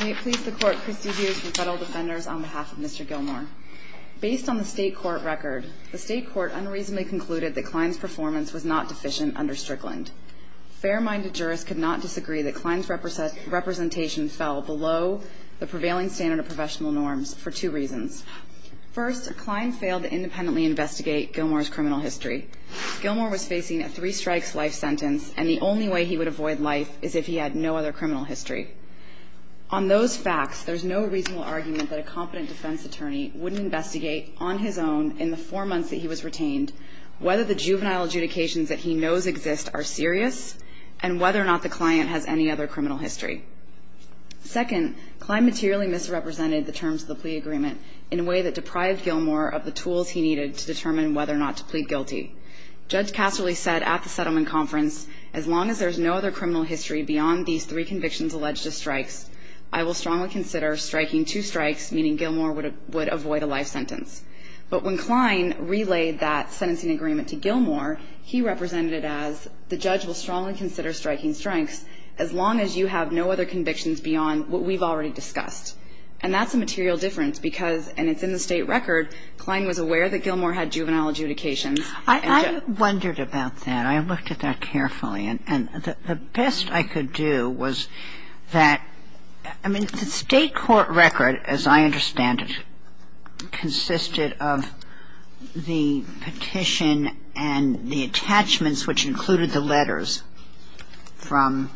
May it please the court, Kristi Hughes from Federal Defenders on behalf of Mr. Gilmore. Based on the state court record, the state court unreasonably concluded that Klein's performance was not deficient under Strickland. Fair-minded jurists could not disagree that Klein's representation fell below the prevailing standard of professional norms for two reasons. First, Klein failed to independently investigate Gilmore's criminal history. Gilmore was facing a three strikes life sentence and the only way he would avoid life is if he had no other criminal history. On those facts, there's no reasonable argument that a competent defense attorney wouldn't investigate on his own in the four months that he was retained whether the juvenile adjudications that he knows exist are serious and whether or not the client has any other criminal history. Second, Klein materially misrepresented the terms of the plea agreement in a way that deprived Gilmore of the tools he needed to determine whether or not to plead guilty. Judge Casterly said at the settlement conference, as long as there's no other criminal history beyond these three convictions alleged to strikes, I will strongly consider striking two strikes, meaning Gilmore would avoid a life sentence. But when Klein relayed that sentencing agreement to Gilmore, he represented it as the judge will strongly consider striking strikes as long as you have no other convictions beyond what we've already discussed. And that's a material difference because, and it's in the state record, Klein was aware that Gilmore had juvenile adjudications. I wondered about that. I looked at that carefully. And the best I could do was that, I mean, the state court record, as I understand it, consisted of the petition and the attachments which included the letters from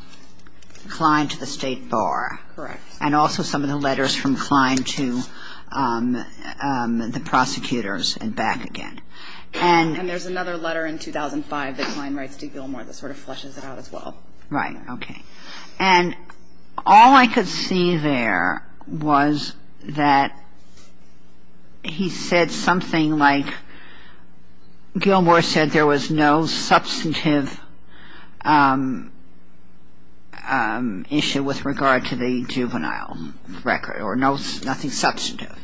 Klein to the state bar. Correct. And also some of the letters from Klein to the prosecutors and back again. And there's another letter in 2005 that Klein writes to Gilmore that sort of fleshes it out as well. Right. Okay. And all I could see there was that he said something like Gilmore said there was no substantive issue with regard to the juvenile record or nothing substantive.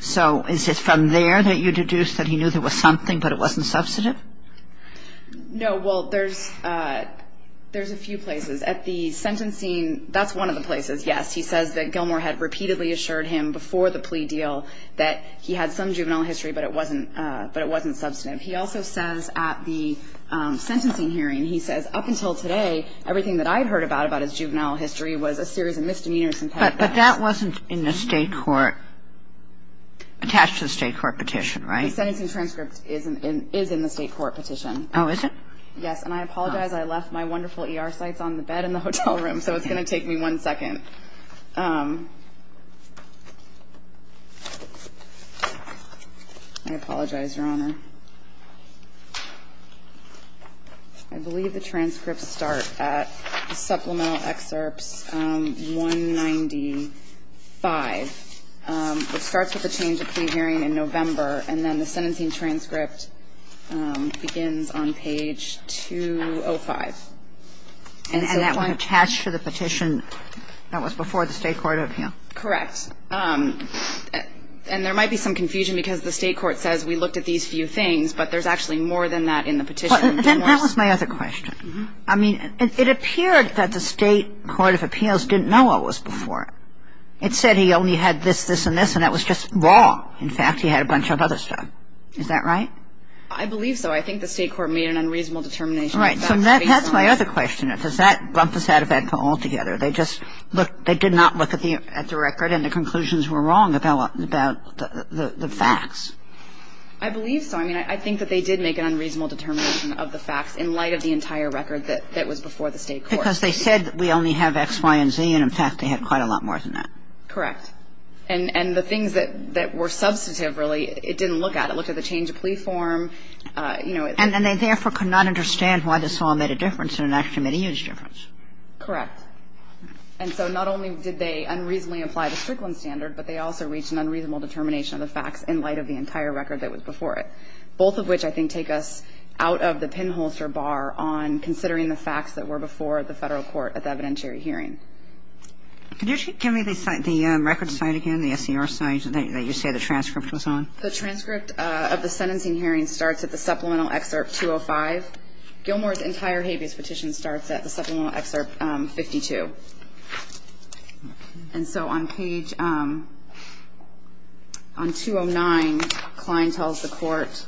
So is it from there that you deduce that he knew there was something, but it wasn't substantive? No. Well, there's a few places. At the sentencing, that's one of the places, yes. He says that Gilmore had repeatedly assured him before the plea deal that he had some juvenile history, but it wasn't substantive. He also says at the sentencing hearing, he says, up until today, everything that I had heard about about his juvenile history was a series of misdemeanors. But that wasn't in the state court, attached to the state court petition, right? The sentencing transcript is in the state court petition. Oh, is it? Yes. And I apologize. I left my wonderful ER sites on the bed in the hotel room, so it's going to take me one second. I apologize, Your Honor. I believe the transcripts start at supplemental excerpts 195, which starts with the change of plea hearing in November, and then the sentencing transcript begins on page 205. And that one attached to the petition that was before the state court appeal? Correct. And there might be some confusion because the state court says we looked at these few things, but there's actually more than that in the petition. Then that was my other question. I mean, it appeared that the state court of appeals didn't know what was before it. It said he only had this, this, and this, and that was just wrong. In fact, he had a bunch of other stuff. Is that right? I believe so. I think the state court made an unreasonable determination. Right. So that's my other question. Does that bump us out of Edco altogether? They just looked they did not look at the record and the conclusions were wrong about the facts. I believe so. I mean, I think that they did make an unreasonable determination of the facts in light of the entire record that was before the state court. Because they said we only have X, Y, and Z, and, in fact, they had quite a lot more than that. Correct. And the things that were substantive, really, it didn't look at. It looked at the change of plea form, you know. And they therefore could not understand why this all made a difference and it actually made a huge difference. Correct. And so not only did they unreasonably apply the Strickland standard, but they also reached an unreasonable determination of the facts in light of the entire record that was before it, both of which I think take us out of the pinholster bar on considering the facts that were before the Federal court at the evidentiary hearing. Could you give me the record site again, the SCR site that you say the transcript was on? The transcript of the sentencing hearing starts at the supplemental excerpt 205. Gilmore's entire habeas petition starts at the supplemental excerpt 52. And so on page 209, Klein tells the court,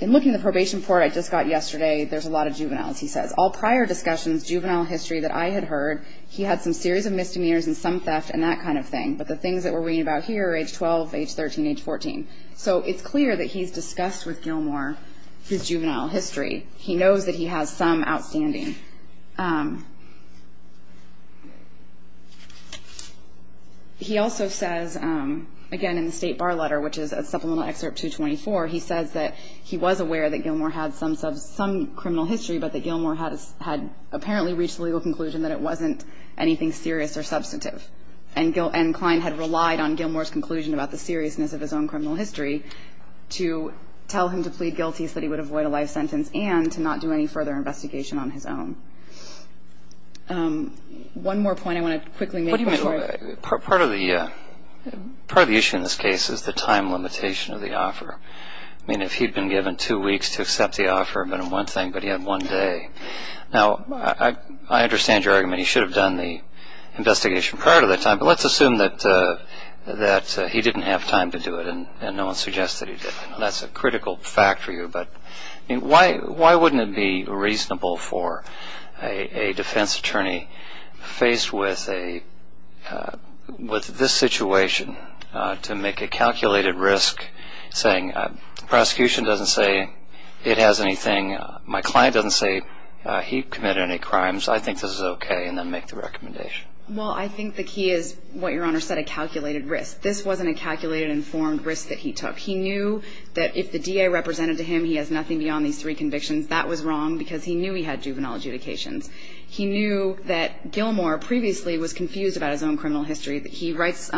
in looking at the probation report I just got yesterday, there's a lot of juveniles, he says. All prior discussions, juvenile history that I had heard, he had some series of misdemeanors and some theft and that kind of thing. But the things that we're reading about here are age 12, age 13, age 14. So it's clear that he's discussed with Gilmore his juvenile history. He knows that he has some outstanding. He also says, again, in the state bar letter, which is a supplemental excerpt 224, he says that he was aware that Gilmore had some criminal history, but that Gilmore had apparently reached a legal conclusion that it wasn't anything serious or substantive. And Klein had relied on Gilmore's conclusion about the seriousness of his own criminal history to tell him to plead guilty so that he would avoid a life sentence and to not do any further investigation on his own. One more point I want to quickly make. What do you mean? Part of the issue in this case is the time limitation of the offer. I mean, if he'd been given two weeks to accept the offer, but in one thing, but he had one day. Now, I understand your argument. He should have done the investigation prior to that time. But let's assume that he didn't have time to do it and no one suggested he did. That's a critical fact for you. But why wouldn't it be reasonable for a defense attorney faced with this situation to make a calculated risk saying the prosecution doesn't say it has anything, my client doesn't say he committed any crimes, I think this is okay, and then make the recommendation? Well, I think the key is what Your Honor said, a calculated risk. This wasn't a calculated informed risk that he took. He knew that if the DA represented to him, he has nothing beyond these three convictions. That was wrong because he knew he had juvenile adjudications. He knew that Gilmore previously was confused about his own criminal history. He writes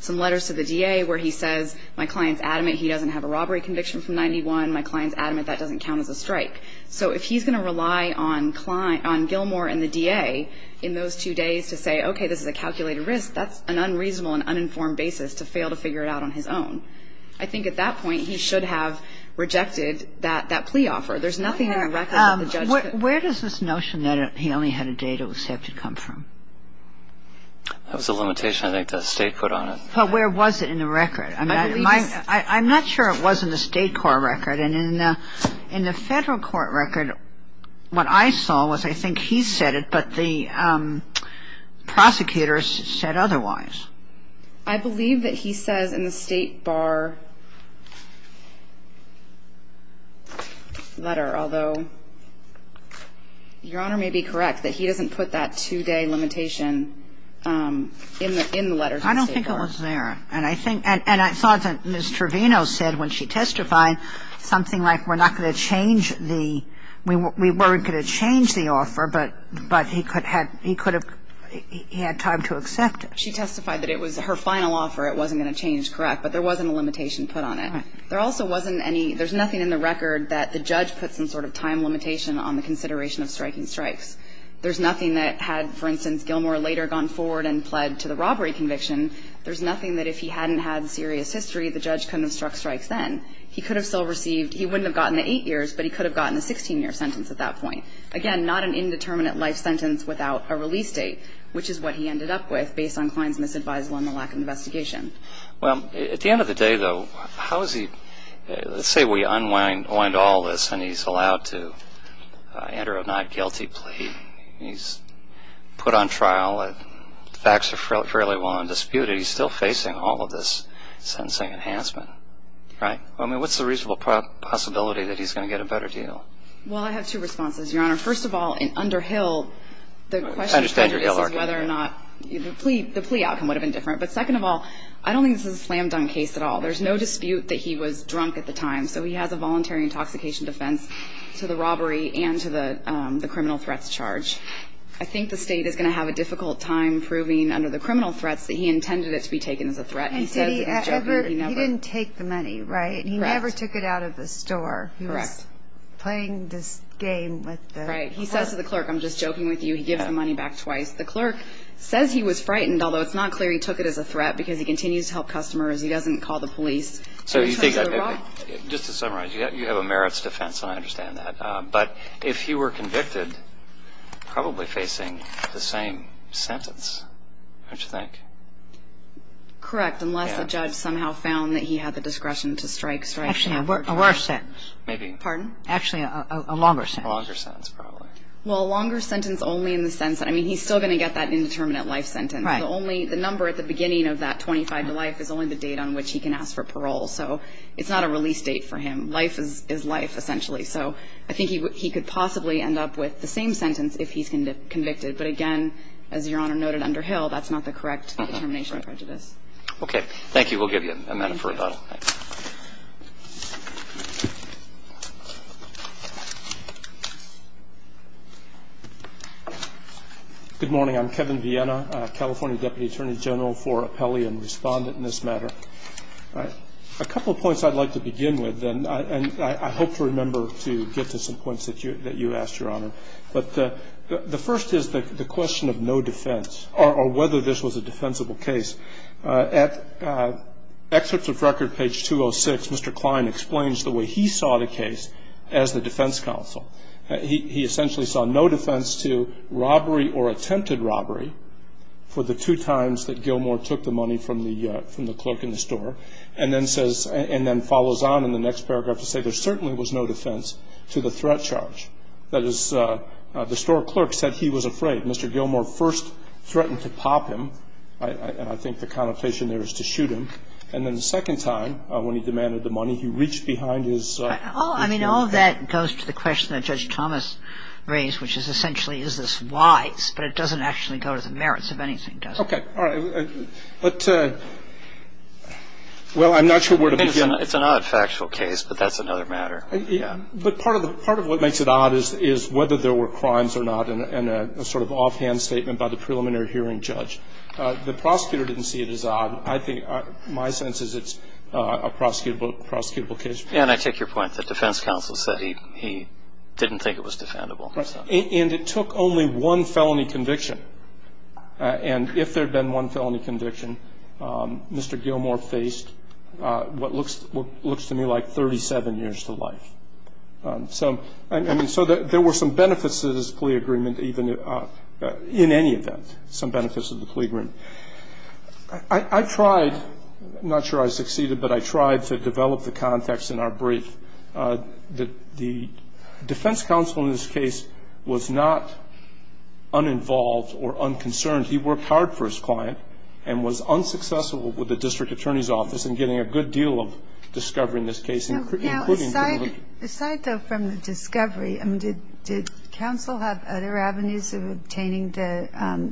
some letters to the DA where he says my client's adamant he doesn't have a robbery conviction from 91. My client's adamant that doesn't count as a strike. So if he's going to rely on Gilmore and the DA in those two days to say, okay, this is a calculated risk, that's an unreasonable and uninformed basis to fail to figure it out on his own. I think at that point he should have rejected that plea offer. There's nothing in the record that the judge could do. Where does this notion that he only had a date it was safe to come from? That was a limitation I think the State put on it. But where was it in the record? I'm not sure it was in the State court record. And in the Federal court record, what I saw was I think he said it, but the prosecutors said otherwise. I believe that he says in the State bar letter, although Your Honor may be correct, that he doesn't put that two-day limitation in the letters. I don't think it was there. And I think, and I thought that Ms. Trevino said when she testified something like we're not going to change the, we weren't going to change the offer, but he could have, he could have, he had time to accept it. She testified that it was her final offer, it wasn't going to change, correct. But there wasn't a limitation put on it. There also wasn't any, there's nothing in the record that the judge put some sort of time limitation on the consideration of striking strikes. There's nothing that had, for instance, Gilmore later gone forward and pled to the robbery conviction. There's nothing that if he hadn't had serious history, the judge couldn't have struck strikes then. He could have still received, he wouldn't have gotten the eight years, but he could have gotten the 16-year sentence at that point. Again, not an indeterminate life sentence without a release date, which is what he ended up with based on Klein's misadvisable on the lack of investigation. Well, at the end of the day, though, how is he, let's say we unwind all this and he's put on trial and the facts are fairly well undisputed, he's still facing all of this sentencing enhancement, right? I mean, what's the reasonable possibility that he's going to get a better deal? Well, I have two responses, Your Honor. First of all, in Underhill, the question is whether or not, the plea outcome would have been different. But second of all, I don't think this is a slam dunk case at all. There's no dispute that he was drunk at the time, so he has a voluntary intoxication defense to the robbery and to the criminal threats charge. I think the State is going to have a difficult time proving under the criminal threats that he intended it to be taken as a threat. He said that he was joking, but he never. He didn't take the money, right? Correct. He never took it out of the store. Correct. He was playing this game with the clerk. Right. He says to the clerk, I'm just joking with you, he gives the money back twice. The clerk says he was frightened, although it's not clear he took it as a threat because he continues to help customers. He doesn't call the police. So you think that maybe, just to summarize, you have a merits defense. I understand that. But if he were convicted, probably facing the same sentence, don't you think? Correct, unless the judge somehow found that he had the discretion to strike. Actually, a worse sentence. Maybe. Pardon? Actually, a longer sentence. A longer sentence, probably. Well, a longer sentence only in the sense that, I mean, he's still going to get that indeterminate life sentence. Right. The number at the beginning of that 25 to life is only the date on which he can ask for parole. So it's not a release date for him. Life is life, essentially. So I think he could possibly end up with the same sentence if he's convicted. But, again, as Your Honor noted under Hill, that's not the correct determination of prejudice. Okay. Thank you. We'll give you a minute for rebuttal. Thank you. Good morning. I'm Kevin Viena, California Deputy Attorney General for Appellee and Respondent in this matter. All right. A couple of points I'd like to begin with, and I hope to remember to get to some points that you asked, Your Honor. But the first is the question of no defense or whether this was a defensible case. At excerpts of record, page 206, Mr. Klein explains the way he saw the case as the defense counsel. He essentially saw no defense to robbery or attempted robbery for the two times that Gilmour took the money from the clerk in the store. And then says, and then follows on in the next paragraph to say there certainly was no defense to the threat charge. That is, the store clerk said he was afraid. Mr. Gilmour first threatened to pop him, and I think the connotation there is to shoot him. And then the second time, when he demanded the money, he reached behind his vehicle. I mean, all that goes to the question that Judge Thomas raised, which is essentially is this wise, but it doesn't actually go to the merits of anything, does it? Okay. All right. But, well, I'm not sure where to begin. It's an odd factual case, but that's another matter. Yeah. But part of what makes it odd is whether there were crimes or not, and a sort of offhand statement by the preliminary hearing judge. The prosecutor didn't see it as odd. I think my sense is it's a prosecutable case. And I take your point. The defense counsel said he didn't think it was defendable. And it took only one felony conviction. And if there had been one felony conviction, Mr. Gilmour faced what looks to me like 37 years to life. So, I mean, so there were some benefits to this plea agreement even in any event, some benefits of the plea agreement. I tried, I'm not sure I succeeded, but I tried to develop the context in our brief that the defense counsel in this case was not uninvolved or unconcerned. He worked hard for his client and was unsuccessful with the district attorney's office in getting a good deal of discovery in this case. Now, aside though from the discovery, I mean, did counsel have other avenues of obtaining the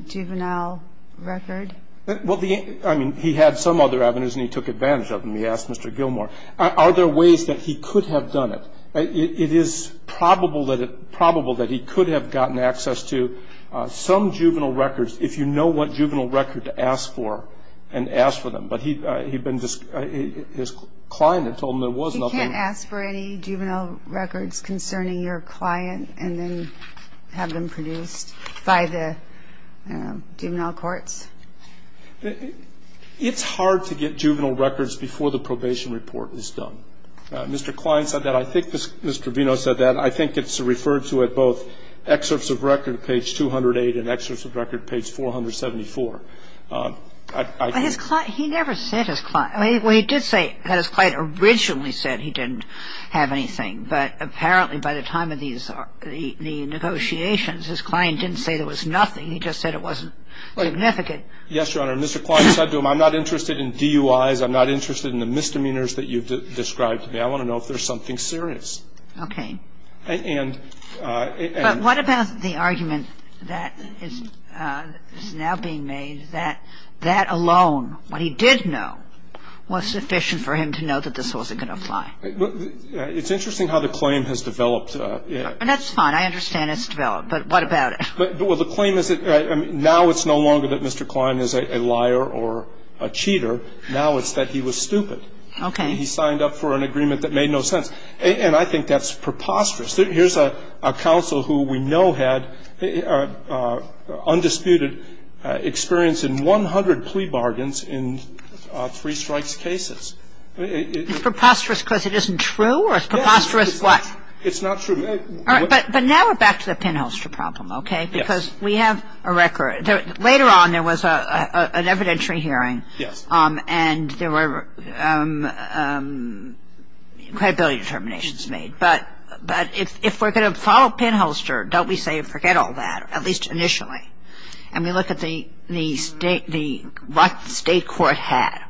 juvenile record? Well, I mean, he had some other avenues and he took advantage of them. He asked Mr. Gilmour, are there ways that he could have done it? It is probable that he could have gotten access to some juvenile records, if you know what juvenile record to ask for, and ask for them. But he'd been, his client had told him there was nothing. He can't ask for any juvenile records concerning your client and then have them produced by the juvenile courts? It's hard to get juvenile records before the probation report is done. Mr. Klein said that. I think Mr. Vino said that. I think it's referred to at both excerpts of record, page 208, and excerpts of record, page 474. But his client, he never said his client. Well, he did say that his client originally said he didn't have anything, but apparently by the time of these, the negotiations, his client didn't say there was nothing. He just said it wasn't significant. Yes, Your Honor. Mr. Klein said to him, I'm not interested in DUIs. I'm not interested in the misdemeanors that you've described to me. I want to know if there's something serious. Okay. But what about the argument that is now being made that that alone, what he did know, was sufficient for him to know that this wasn't going to apply? It's interesting how the claim has developed. And that's fine. I understand it's developed. But what about it? Well, the claim is that now it's no longer that Mr. Klein is a liar or a cheater. Now it's that he was stupid. Okay. He signed up for an agreement that made no sense. And I think that's preposterous. Here's a counsel who we know had undisputed experience in 100 plea bargains in three-strikes cases. It's preposterous because it isn't true? Or it's preposterous what? It's not true. But now we're back to the pinholster problem, okay? Because we have a record. Later on there was an evidentiary hearing. Yes. And there were credibility determinations made. But if we're going to follow pinholster, don't we say forget all that, at least initially? And we look at what the state court had.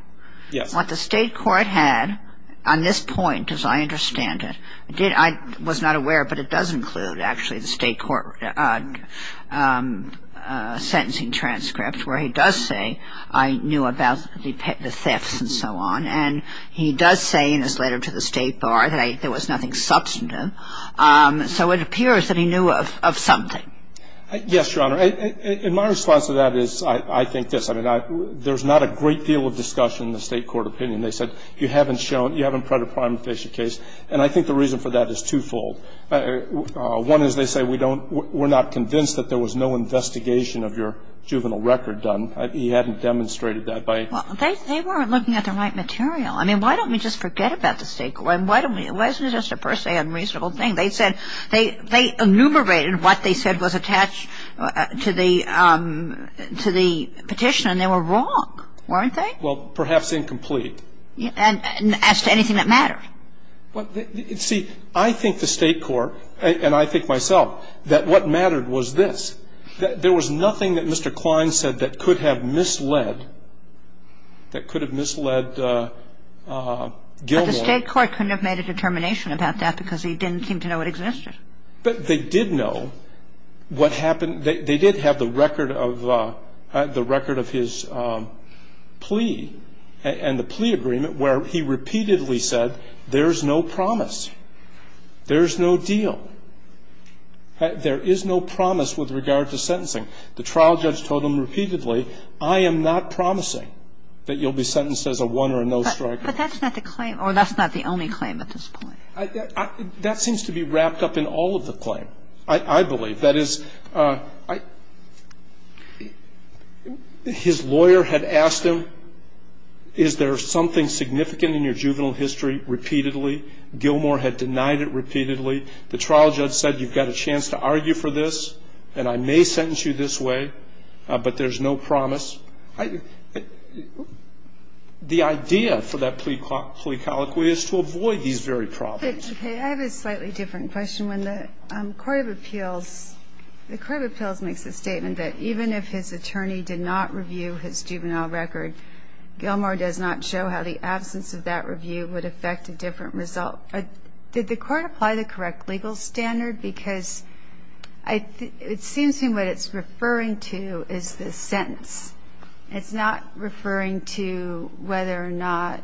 Yes. What the state court had on this point, as I understand it, I was not aware, but it does include actually the state court sentencing transcript where he does say I knew about the thefts and so on. And he does say in his letter to the state bar that there was nothing substantive. So it appears that he knew of something. Yes, Your Honor. And my response to that is I think this. I mean, there's not a great deal of discussion in the state court opinion. They said you haven't shown, you haven't tried a prima facie case. And I think the reason for that is twofold. One is they say we don't, we're not convinced that there was no investigation of your juvenile record done. He hadn't demonstrated that by. Well, they weren't looking at the right material. I mean, why don't we just forget about the state court? Why don't we, it wasn't just a per se unreasonable thing. They said, they enumerated what they said was attached to the petition and they were wrong, weren't they? Well, perhaps incomplete. And as to anything that mattered. See, I think the state court, and I think myself, that what mattered was this. There was nothing that Mr. Klein said that could have misled, that could have misled Gilmore. But the state court couldn't have made a determination about that because he didn't seem to know it existed. But they did know what happened. And they did have the record of, the record of his plea and the plea agreement where he repeatedly said there's no promise. There's no deal. There is no promise with regard to sentencing. The trial judge told him repeatedly, I am not promising that you'll be sentenced as a one or a no-striker. But that's not the claim, or that's not the only claim at this point. That seems to be wrapped up in all of the claim, I believe. That is, his lawyer had asked him, is there something significant in your juvenile history? Repeatedly. Gilmore had denied it repeatedly. The trial judge said you've got a chance to argue for this and I may sentence you this way, but there's no promise. The idea for that plea colloquy is to avoid these very problems. I have a slightly different question. When the court of appeals, the court of appeals makes the statement that even if his attorney did not review his juvenile record, Gilmore does not show how the absence of that review would affect a different result. Did the court apply the correct legal standard? Because it seems to me what it's referring to is the sentence. It's not referring to whether or not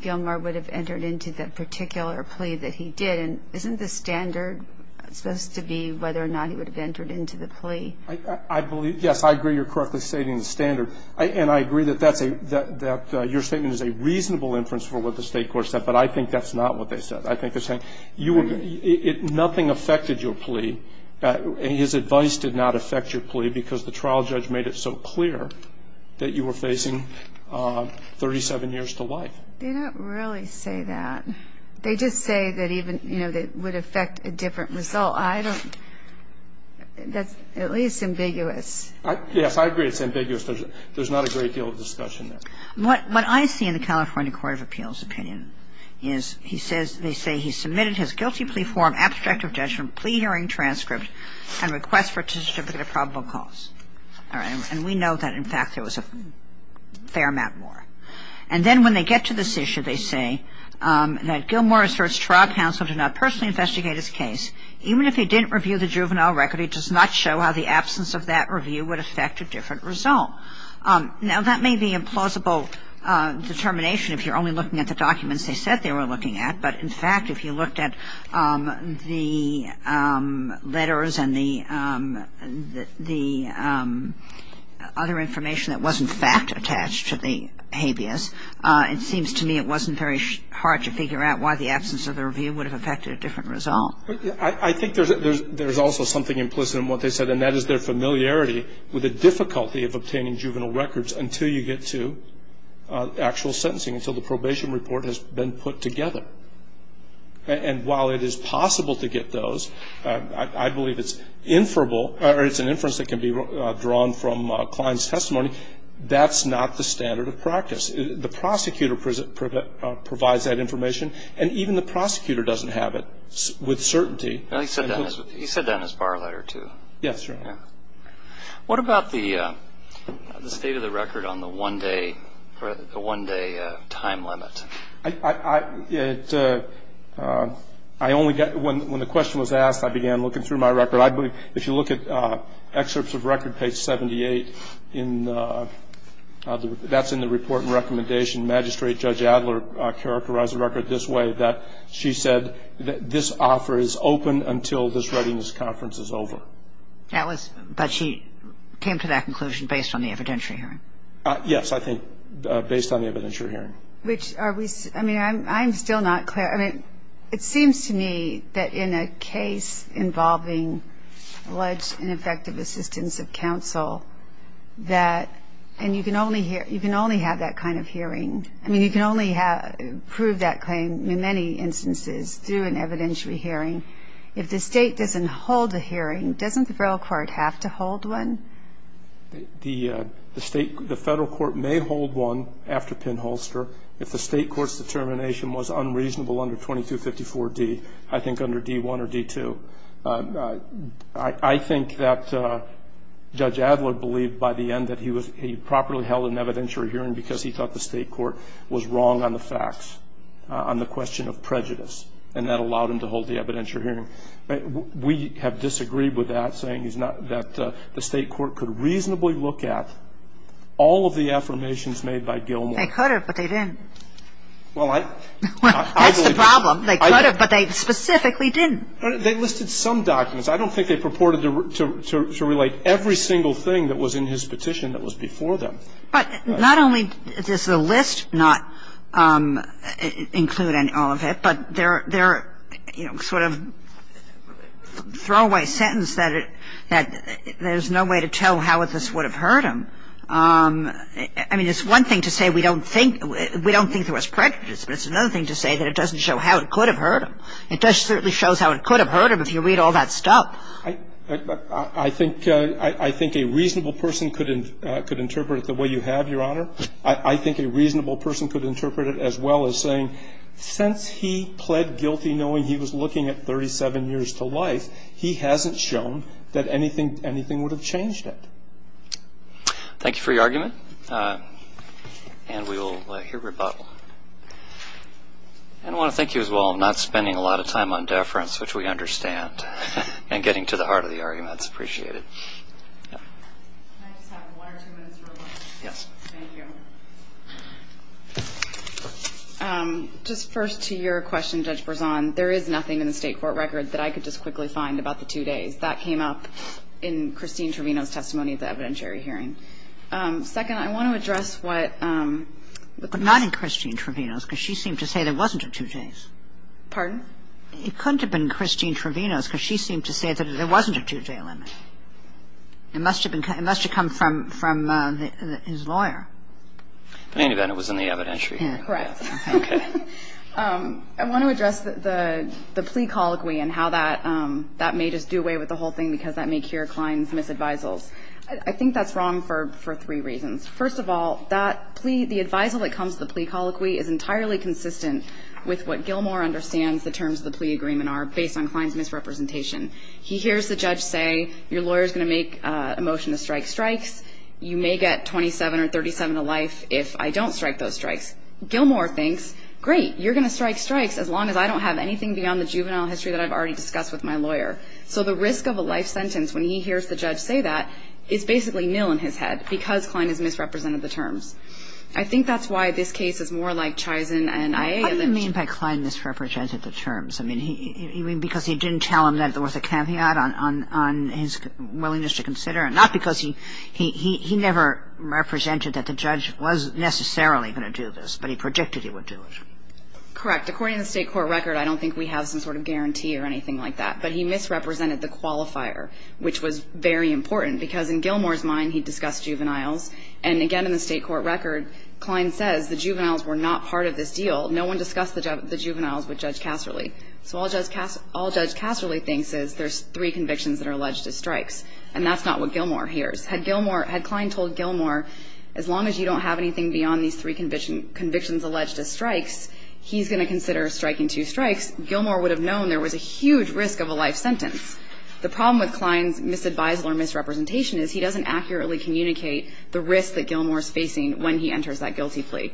Gilmore would have entered into that particular plea that he did. And isn't the standard supposed to be whether or not he would have entered into the plea? I believe, yes, I agree you're correctly stating the standard. And I agree that that's a, that your statement is a reasonable inference for what the State Court said, but I think that's not what they said. I think they're saying you were, nothing affected your plea. His advice did not affect your plea because the trial judge made it so clear that you were facing 37 years to life. They don't really say that. They just say that even, you know, that it would affect a different result. I don't, that's at least ambiguous. Yes, I agree it's ambiguous. There's not a great deal of discussion there. What I see in the California court of appeals opinion is he says, they say he submitted his guilty plea form, abstract of judgment, plea hearing transcript, and request for a certificate of probable cause. All right. And we know that in fact there was a fair amount more. And then when they get to this issue, they say that Gilmore asserts trial counsel did not personally investigate his case. Even if he didn't review the juvenile record, it does not show how the absence of that review would affect a different result. Now, that may be a plausible determination if you're only looking at the documents they said they were looking at. But in fact, if you looked at the letters and the other information that was in fact attached to the habeas, it seems to me it wasn't very hard to figure out why the absence of the review would have affected a different result. I think there's also something implicit in what they said, and that is their familiarity with the difficulty of obtaining juvenile records until you get to actual sentencing, until the probation report has been put together. And while it is possible to get those, I believe it's inferable, or it's an inference that can be drawn from Klein's testimony, that's not the standard of practice. The prosecutor provides that information, and even the prosecutor doesn't have it with certainty. He said that in his bar letter, too. Yes, sir. What about the state of the record on the one-day time limit? When the question was asked, I began looking through my record. If you look at excerpts of record page 78, that's in the report and recommendation. Magistrate Judge Adler characterized the record this way, that she said this offer is open until this Readiness Conference is over. But she came to that conclusion based on the evidentiary hearing? Yes, I think based on the evidentiary hearing. I mean, I'm still not clear. I mean, it seems to me that in a case involving alleged ineffective assistance of counsel, that you can only have that kind of hearing. I mean, you can only prove that claim in many instances through an evidentiary hearing. If the state doesn't hold a hearing, doesn't the federal court have to hold one? The federal court may hold one after pinholster if the state court's determination was unreasonable under 2254D, I think under D1 or D2. I think that Judge Adler believed by the end that he properly held an evidentiary hearing because he thought the state court was wrong on the facts, on the question of prejudice, and that allowed him to hold the evidentiary hearing. We have disagreed with that, saying that the state court could reasonably look at all of the affirmations made by Gilmour. They could have, but they didn't. Well, I believe that's the problem. They could have, but they specifically didn't. They listed some documents. I don't think they purported to relate every single thing that was in his petition that was before them. But not only does the list not include all of it, but their, you know, sort of throwaway sentence that there's no way to tell how this would have hurt him. I mean, it's one thing to say we don't think there was prejudice, but it's another thing to say that it doesn't show how it could have hurt him. It certainly shows how it could have hurt him if you read all that stuff. I think a reasonable person could interpret it the way you have, Your Honor. I think a reasonable person could interpret it as well as saying since he pled guilty, knowing he was looking at 37 years to life, he hasn't shown that anything would have changed it. Thank you for your argument. And we will hear rebuttal. I want to thank you as well. I'm not spending a lot of time on deference, which we understand, and getting to the heart of the argument. It's appreciated. Can I just have one or two minutes real quick? Yes. Thank you. Just first to your question, Judge Berzon, there is nothing in the state court record that I could just quickly find about the two days. That came up in Christine Trevino's testimony at the evidentiary hearing. Second, I want to address what the person said. It couldn't have been Christine Trevino's because she seemed to say there wasn't a two days. Pardon? It couldn't have been Christine Trevino's because she seemed to say that there wasn't a two-day limit. It must have come from his lawyer. But any event, it was in the evidentiary hearing. Correct. Okay. I want to address the plea colloquy and how that may just do away with the whole thing because that may cure Klein's misadvisals. I think that's wrong for three reasons. First of all, that plea, the advisal that comes to the plea colloquy is entirely consistent with what Gilmour understands the terms of the plea agreement are based on Klein's misrepresentation. He hears the judge say, your lawyer is going to make a motion to strike strikes. You may get 27 or 37 to life if I don't strike those strikes. Gilmour thinks, great, you're going to strike strikes as long as I don't have anything beyond the juvenile history that I've already discussed with my lawyer. So the risk of a life sentence when he hears the judge say that is basically nil in his head because Klein has misrepresented the terms. I think that's why this case is more like Chison and Ayala. I don't mean by Klein misrepresented the terms. I mean, you mean because he didn't tell him that there was a caveat on his willingness to consider, not because he never represented that the judge was necessarily going to do this, but he predicted he would do it. Correct. According to the state court record, I don't think we have some sort of guarantee or anything like that. But he misrepresented the qualifier, which was very important because in Gilmour's mind, he discussed juveniles. And again, in the state court record, Klein says the juveniles were not part of this deal. No one discussed the juveniles with Judge Casserly. So all Judge Casserly thinks is there's three convictions that are alleged as strikes. And that's not what Gilmour hears. Had Gilmour – had Klein told Gilmour, as long as you don't have anything beyond these three convictions alleged as strikes, he's going to consider striking two strikes, Gilmour would have known there was a huge risk of a life sentence. The problem with Klein's misadvisal or misrepresentation is he doesn't accurately communicate the risk that Gilmour is facing when he enters that guilty plea.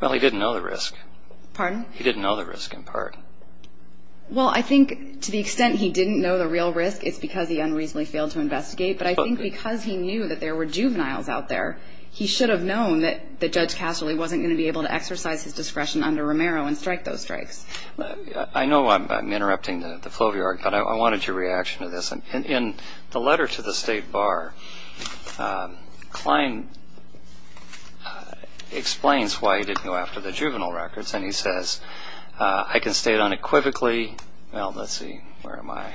Well, he didn't know the risk. Pardon? He didn't know the risk, in part. Well, I think to the extent he didn't know the real risk, it's because he unreasonably failed to investigate. But I think because he knew that there were juveniles out there, he should have known that Judge Casserly wasn't going to be able to exercise his discretion under Romero and strike those strikes. I know I'm interrupting the flow of your argument. I wanted your reaction to this. In the letter to the State Bar, Klein explains why he didn't go after the juvenile records, and he says, I can state unequivocally – well, let's see. Where am I?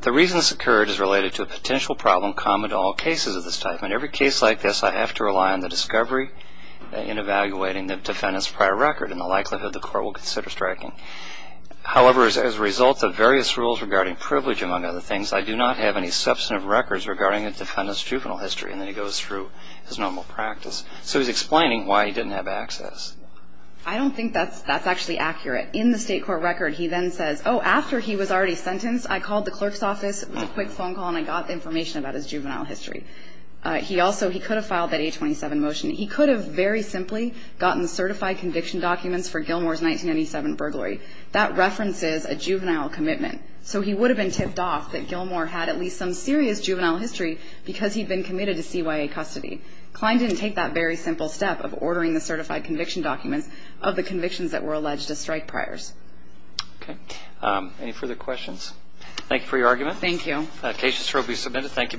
The reason this occurred is related to a potential problem common to all cases of this type. In every case like this, I have to rely on the discovery in evaluating the defendant's juvenile record and the likelihood the court will consider striking. However, as a result of various rules regarding privilege, among other things, I do not have any substantive records regarding a defendant's juvenile history. And then he goes through his normal practice. So he's explaining why he didn't have access. I don't think that's actually accurate. In the state court record, he then says, oh, after he was already sentenced, I called the clerk's office, it was a quick phone call, and I got the information about his juvenile history. He also – he could have filed that 827 motion. He could have very simply gotten certified conviction documents for Gilmore's 1997 burglary. That references a juvenile commitment. So he would have been tipped off that Gilmore had at least some serious juvenile history because he'd been committed to CYA custody. Klein didn't take that very simple step of ordering the certified conviction documents of the convictions that were alleged as strike priors. Okay. Any further questions? Thank you for your argument. Thank you. The case has now been submitted. Thank you both.